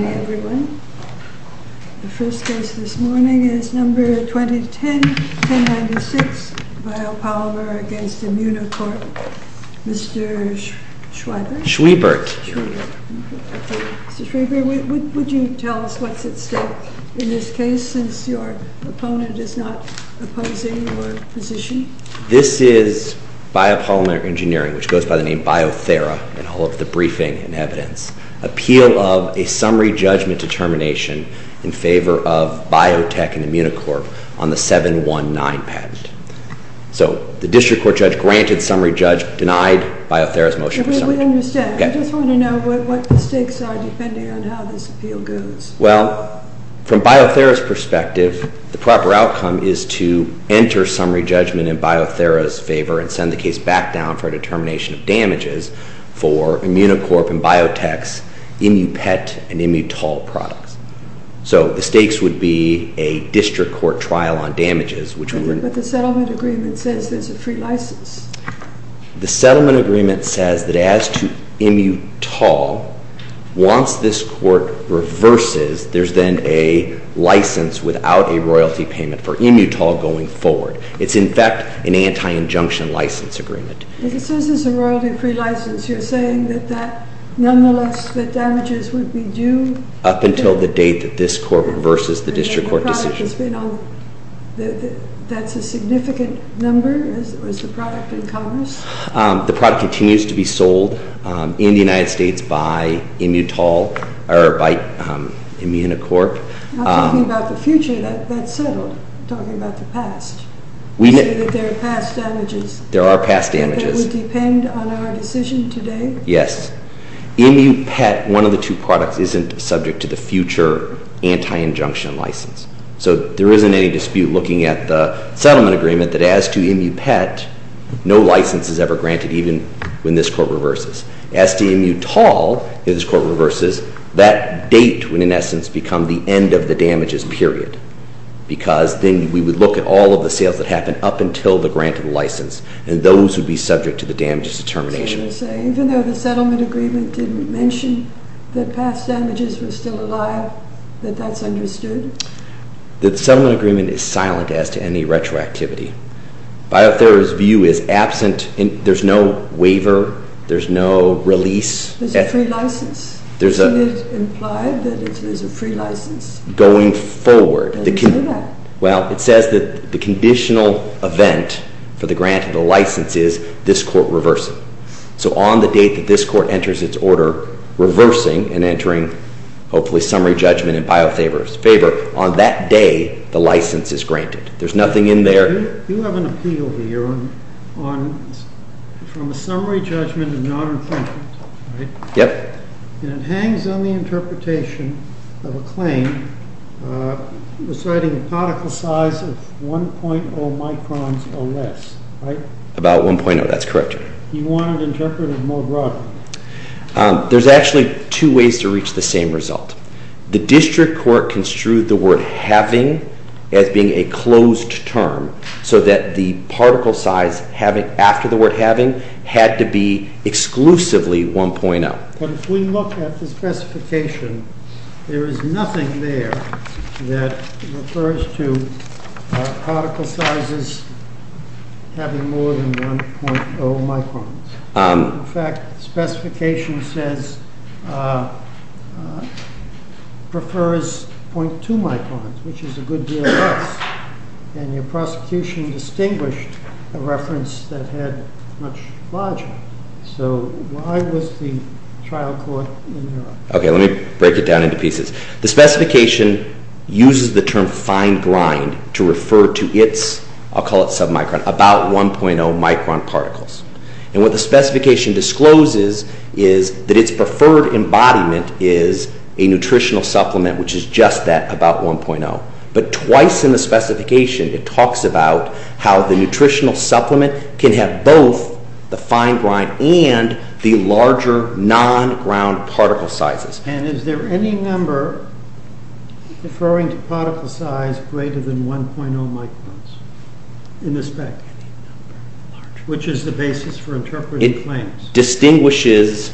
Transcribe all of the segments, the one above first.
Hi everyone. The first case this morning is number 2010-1096, Biopolymer v. Immunocorp. Mr. Schwebert? Schwebert. Mr. Schwebert, would you tell us what's at stake in this case, since your opponent is not opposing your position? This is Biopolymer Engineering, which goes by the name Biothera in all of the briefing and evidence. Appeal of a summary judgment determination in favor of Biotech and Immunocorp on the 719 patent. So the district court judge granted summary judge, denied Biothera's motion for summary judgment. We understand. We just want to know what the stakes are depending on how this appeal goes. Well, from Biothera's perspective, the proper outcome is to enter summary judgment in Biothera's favor and send the case back down for a determination of damages for Immunocorp and Biotech's Immupet and Immutol products. So the stakes would be a district court trial on damages, which would... But the settlement agreement says there's a free license. The settlement agreement says that as to Immutol, once this court reverses, there's then a license without a royalty payment for Immutol going forward. It's, in fact, an anti-injunction license agreement. If it says there's a royalty-free license, you're saying that that, nonetheless, the damages would be due... Up until the date that this court reverses the district court decision. And the product has been on... That's a significant number, is the product in commerce? The product continues to be sold in the United States by Immutol, or by Immunocorp. I'm talking about the future. That's settled. I'm talking about the past. You say that there are past damages. There are past damages. And that would depend on our decision today? Yes. Immupet, one of the two products, isn't subject to the future anti-injunction license. So there isn't any dispute looking at the settlement agreement that as to Immupet, no license is ever granted, even when this court reverses. As to Immutol, if this court reverses, that date would, in essence, become the end of the damages period. Because then we would look at all of the sales that happened up until the grant of the license. And those would be subject to the damages determination. So you're saying, even though the settlement agreement didn't mention that past damages were still alive, that that's understood? The settlement agreement is silent as to any retroactivity. Biothera's view is absent. There's no waiver. There's no release. There's a free license. Isn't it implied that there's a free license? Going forward. How do you say that? Well, it says that the conditional event for the grant of the license is this court reversing. So on the date that this court enters its order reversing and entering, hopefully, summary judgment in Biothera's favor, on that day, the license is granted. There's nothing in there. You have an appeal here from a summary judgment of not infringement, right? Yep. And it hangs on the interpretation of a claim deciding a particle size of 1.0 microns or less, right? About 1.0. That's correct. You want it interpreted more broadly. There's actually two ways to reach the same result. The district court construed the word having as being a closed term so that the particle size after the word having had to be exclusively 1.0. But if we look at the specification, there is nothing there that refers to particle sizes having more than 1.0 microns. In fact, the specification says prefers 0.2 microns, which is a good deal less. And your prosecution distinguished a reference that had much larger. So why was the trial court in error? Okay, let me break it down into pieces. The specification uses the term fine grind to refer to its, I'll call it submicron, about 1.0 micron particles. And what the specification discloses is that its preferred embodiment is a nutritional supplement, which is just that, about 1.0. But twice in the specification, it talks about how the nutritional supplement can have both the fine grind and the larger non-ground particle sizes. And is there any number referring to particle size greater than 1.0 microns in the spec, which is the basis for interpreting claims? It distinguishes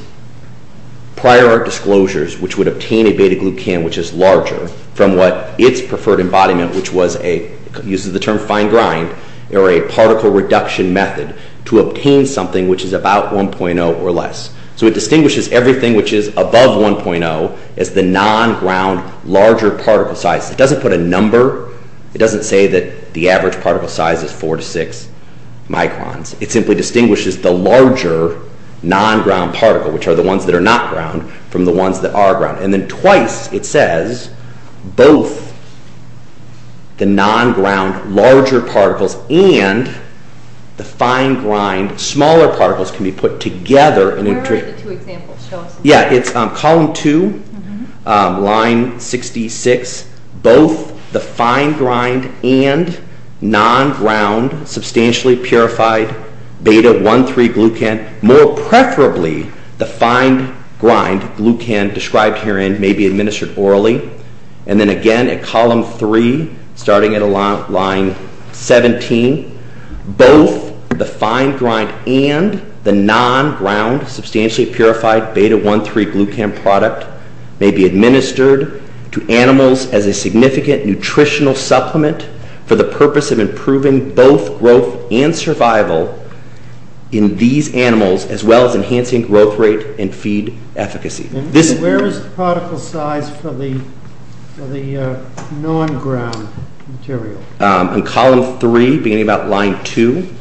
prior art disclosures, which would obtain a beta-glucan, which is larger, from what its preferred embodiment, which uses the term fine grind, or a particle reduction method, to obtain something which is about 1.0 or less. So it distinguishes everything which is above 1.0 as the non-ground larger particle size. It doesn't put a number, it doesn't say that the average particle size is 4 to 6 microns. It simply distinguishes the larger non-ground particle, which are the ones that are not ground, from the ones that are ground. And then twice it says both the non-ground larger particles and the fine grind smaller particles can be put together. Where are the two examples? Yeah, it's column 2, line 66, both the fine grind and non-ground substantially purified beta-1,3-glucan, more preferably the fine grind, glucan described herein, may be administered orally. And then again at column 3, starting at line 17, both the fine grind and the non-ground substantially purified beta-1,3-glucan product may be administered to animals as a significant nutritional supplement for the purpose of improving both growth and survival in these animals, as well as enhancing growth rate and feed efficacy. Where is the particle size for the non-ground material? In column 3, beginning about line 2,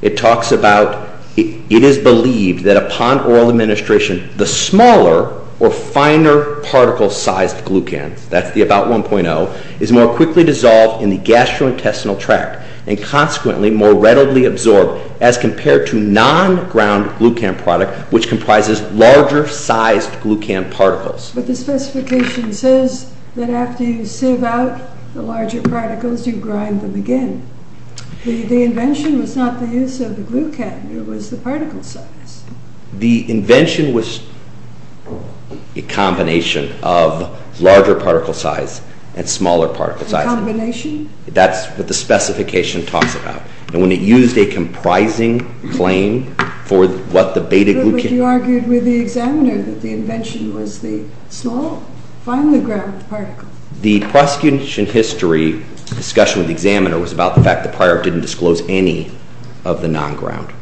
it talks about, it is believed that upon oral administration, the smaller or finer particle sized glucan, that's the about 1.0, is more quickly dissolved in the gastrointestinal tract and consequently more readily absorbed as compared to non-ground glucan product which comprises larger sized glucan particles. But the specification says that after you sieve out the larger particles, you grind them again. The invention was not the use of the glucan, it was the particle size. The invention was a combination of larger particle size and smaller particle size. A combination? That's what the specification talks about. And when it used a comprising claim for what the beta-glucan... But you argued with the examiner that the invention was the small, finely ground particle. The prosecution history discussion with the examiner was about the fact that the prior didn't disclose any of the non-ground.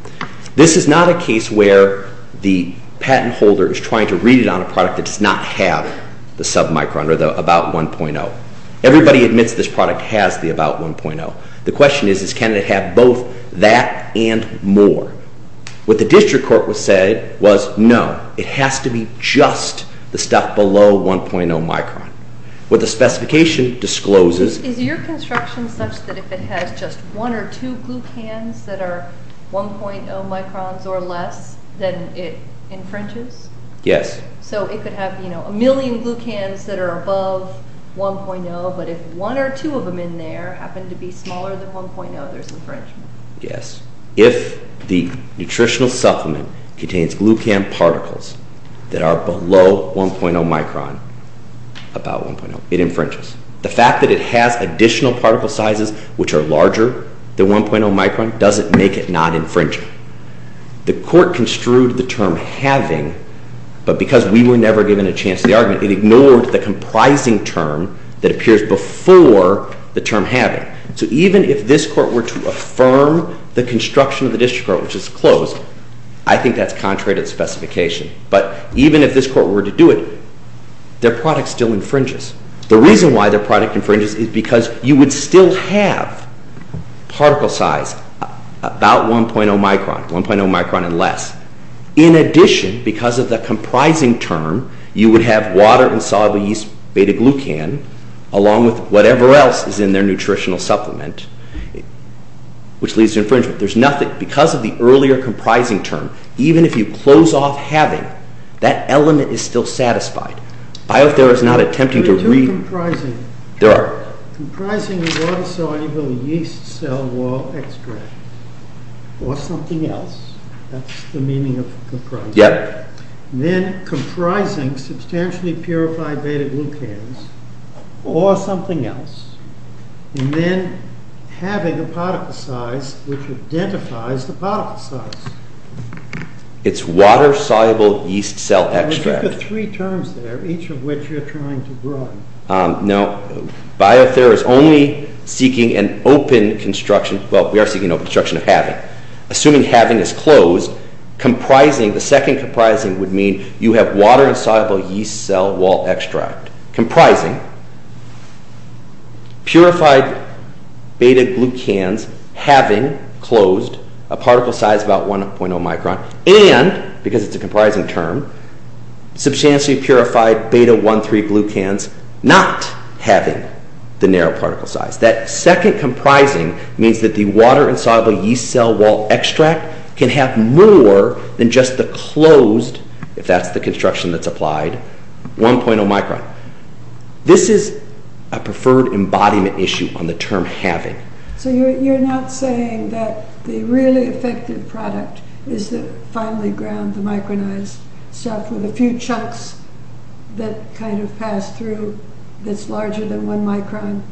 This is not a case where the patent holder is trying to read it on a product that does not have the submicron or the about 1.0. Everybody admits this product has the about 1.0. The question is, can it have both that and more? What the district court said was no, it has to be just the stuff below 1.0 micron. What the specification discloses... Is your construction such that if it has just one or two glucans that are 1.0 microns or less, then it infringes? Yes. So it could have a million glucans that are above 1.0, but if one or two of them in there happen to be smaller than 1.0, there's infringement? Yes. If the nutritional supplement contains glucan particles that are below 1.0 micron, about 1.0, it infringes. The fact that it has additional particle sizes which are larger than 1.0 micron doesn't make it not infringing. The court construed the term having, but because we were never given a chance to argue, it ignored the comprising term that appears before the term having. So even if this court were to affirm the construction of the district court, which is closed, I think that's contrary to the specification. But even if this court were to do it, their product still infringes. The reason why their product infringes is because you would still have particle size about 1.0 micron, 1.0 micron and less. In addition, because of the comprising term, you would have water and soluble yeast, beta-glucan, along with whatever else is in their nutritional supplement, which leads to infringement. There's nothing. Because of the earlier comprising term, even if you close off having, that element is still satisfied. There are two comprising. There are. Comprising water-soluble yeast cell wall extract, or something else. That's the meaning of comprising. Yep. Then comprising substantially purified beta-glucans, or something else. And then having a particle size which identifies the particle size. It's water-soluble yeast cell extract. Those are three terms there, each of which you're trying to run. No. BioThera is only seeking an open construction. Well, we are seeking an open construction of having. Assuming having is closed, comprising, the second comprising would mean you have water-soluble yeast cell wall extract. Comprising purified beta-glucans, having, closed, a particle size about 1.0 micron. And, because it's a comprising term, substantially purified beta-1,3-glucans, not having the narrow particle size. That second comprising means that the water-soluble yeast cell wall extract can have more than just the closed, if that's the construction that's applied, 1.0 micron. This is a preferred embodiment issue on the term having. So you're not saying that the really effective product is the finely ground, the micronized stuff, with a few chunks that kind of pass through, that's larger than 1 micron.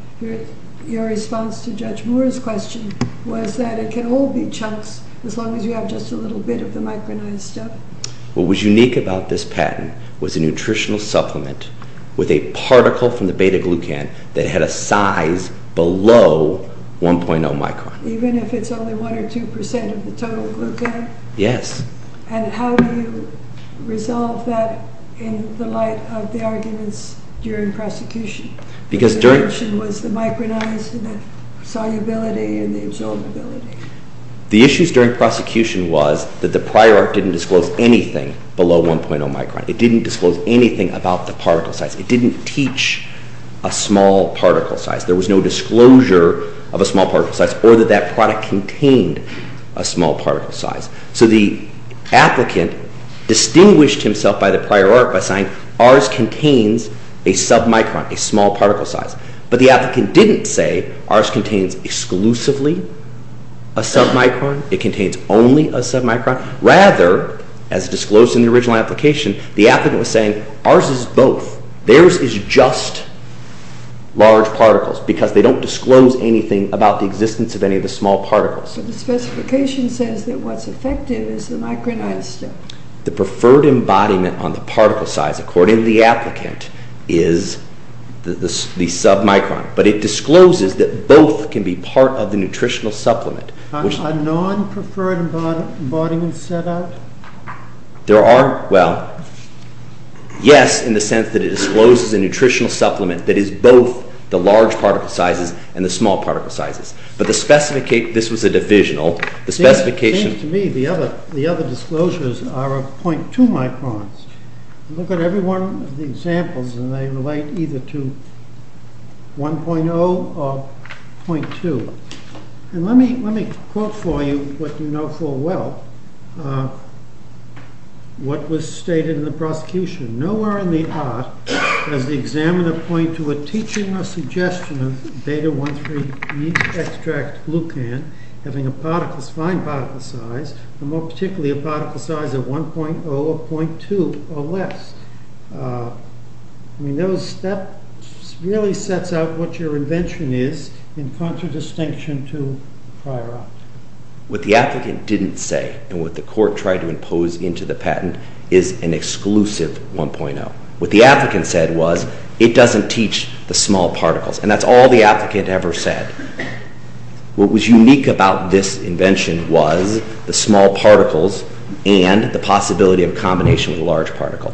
Your response to Judge Moore's question was that it can all be chunks, as long as you have just a little bit of the micronized stuff. What was unique about this patent was a nutritional supplement with a particle from the beta-glucan that had a size below 1.0 micron. Even if it's only 1 or 2 percent of the total glucan? Yes. And how do you resolve that in the light of the arguments during prosecution? Because during... You mentioned was the micronized and the solubility and the absorbability. The issues during prosecution was that the prior art didn't disclose anything below 1.0 micron. It didn't disclose anything about the particle size. It didn't teach a small particle size. There was no disclosure of a small particle size or that that product contained a small particle size. So the applicant distinguished himself by the prior art by saying, ours contains a submicron, a small particle size. But the applicant didn't say, ours contains exclusively a submicron, it contains only a submicron. Rather, as disclosed in the original application, the applicant was saying, ours is both. Theirs is just large particles because they don't disclose anything about the existence of any of the small particles. But the specification says that what's effective is the micronized step. The preferred embodiment on the particle size, according to the applicant, is the submicron. But it discloses that both can be part of the nutritional supplement. Are non-preferred embodiments set out? There are, well, yes, in the sense that it discloses a nutritional supplement that is both the large particle sizes and the small particle sizes. But this was a divisional. It seems to me the other disclosures are 0.2 microns. Look at every one of the examples and they relate either to 1.0 or 0.2. And let me quote for you what you know full well, what was stated in the prosecution. Nowhere in the art does the examiner point to a teaching or suggestion of beta-1,3-heat-extract-glucan having a fine particle size, and more particularly a particle size of 1.0 or 0.2 or less. I mean, that really sets out what your invention is in contradistinction to the prior option. What the applicant didn't say and what the court tried to impose into the patent is an exclusive 1.0. What the applicant said was it doesn't teach the small particles. And that's all the applicant ever said. What was unique about this invention was the small particles and the possibility of a combination with a large particle.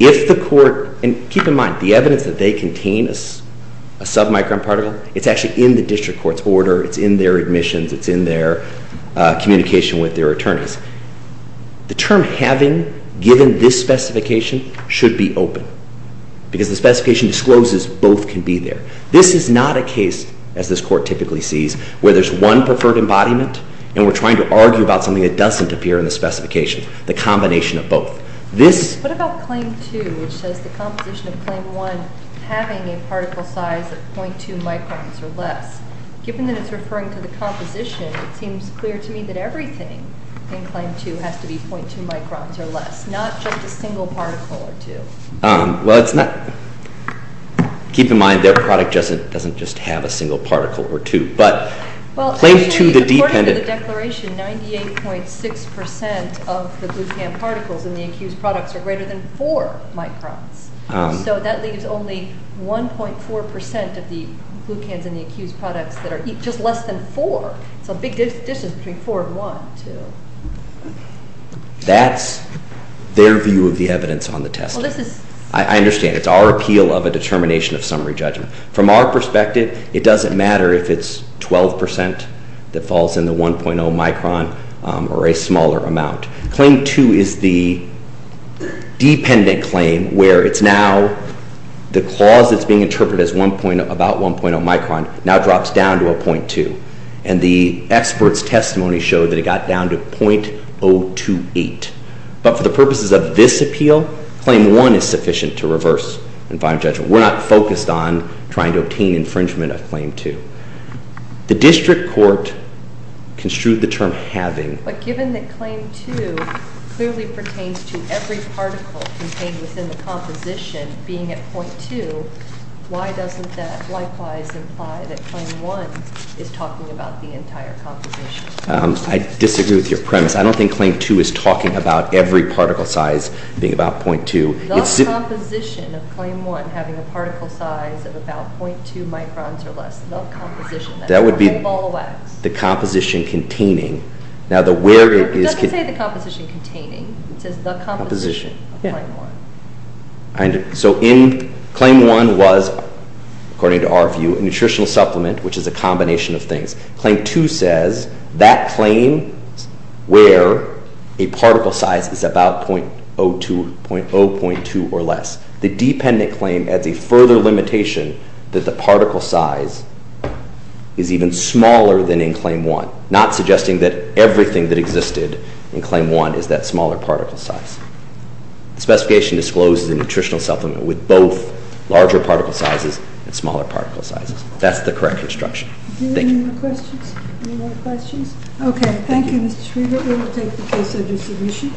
If the court, and keep in mind, the evidence that they contain a submicron particle, it's actually in the district court's order, it's in their admissions, it's in their communication with their attorneys. The term having, given this specification, should be open. Because the specification discloses both can be there. This is not a case, as this court typically sees, where there's one preferred embodiment and we're trying to argue about something that doesn't appear in the specification. The combination of both. What about Claim 2, which says the composition of Claim 1 having a particle size of 0.2 microns or less? Given that it's referring to the composition, it seems clear to me that everything in Claim 2 has to be 0.2 microns or less, not just a single particle or two. Well, keep in mind, their product doesn't just have a single particle or two. According to the declaration, 98.6% of the glucan particles in the accused products are greater than 4 microns. So that leaves only 1.4% of the glucans in the accused products that are just less than 4. It's a big distance between 4 and 1, too. That's their view of the evidence on the test. I understand. It's our appeal of a determination of summary judgment. From our perspective, it doesn't matter if it's 12% that falls in the 1.0 micron or a smaller amount. Claim 2 is the dependent claim where it's now the clause that's being interpreted as about 1.0 micron now drops down to a 0.2. And the expert's testimony showed that it got down to 0.028. But for the purposes of this appeal, Claim 1 is sufficient to reverse and find judgment. We're not focused on trying to obtain infringement of Claim 2. The district court construed the term having. But given that Claim 2 clearly pertains to every particle contained within the composition being at 0.2, why doesn't that likewise imply that Claim 1 is talking about the entire composition? I disagree with your premise. I don't think Claim 2 is talking about every particle size being about 0.2. It's the composition of Claim 1 having a particle size of about 0.2 microns or less. The composition, that whole ball of wax. That would be the composition containing. It doesn't say the composition containing. It says the composition of Claim 1. So in Claim 1 was, according to our view, a nutritional supplement, which is a combination of things. Claim 2 says that claim where a particle size is about 0.02, 0.0, 0.2 or less. The dependent claim adds a further limitation that the particle size is even smaller than in Claim 1. Not suggesting that everything that existed in Claim 1 is that smaller particle size. The specification discloses a nutritional supplement with both larger particle sizes and smaller particle sizes. That's the correct construction. Any more questions? Okay, thank you Mr. Schriever. We will take the case of your solution.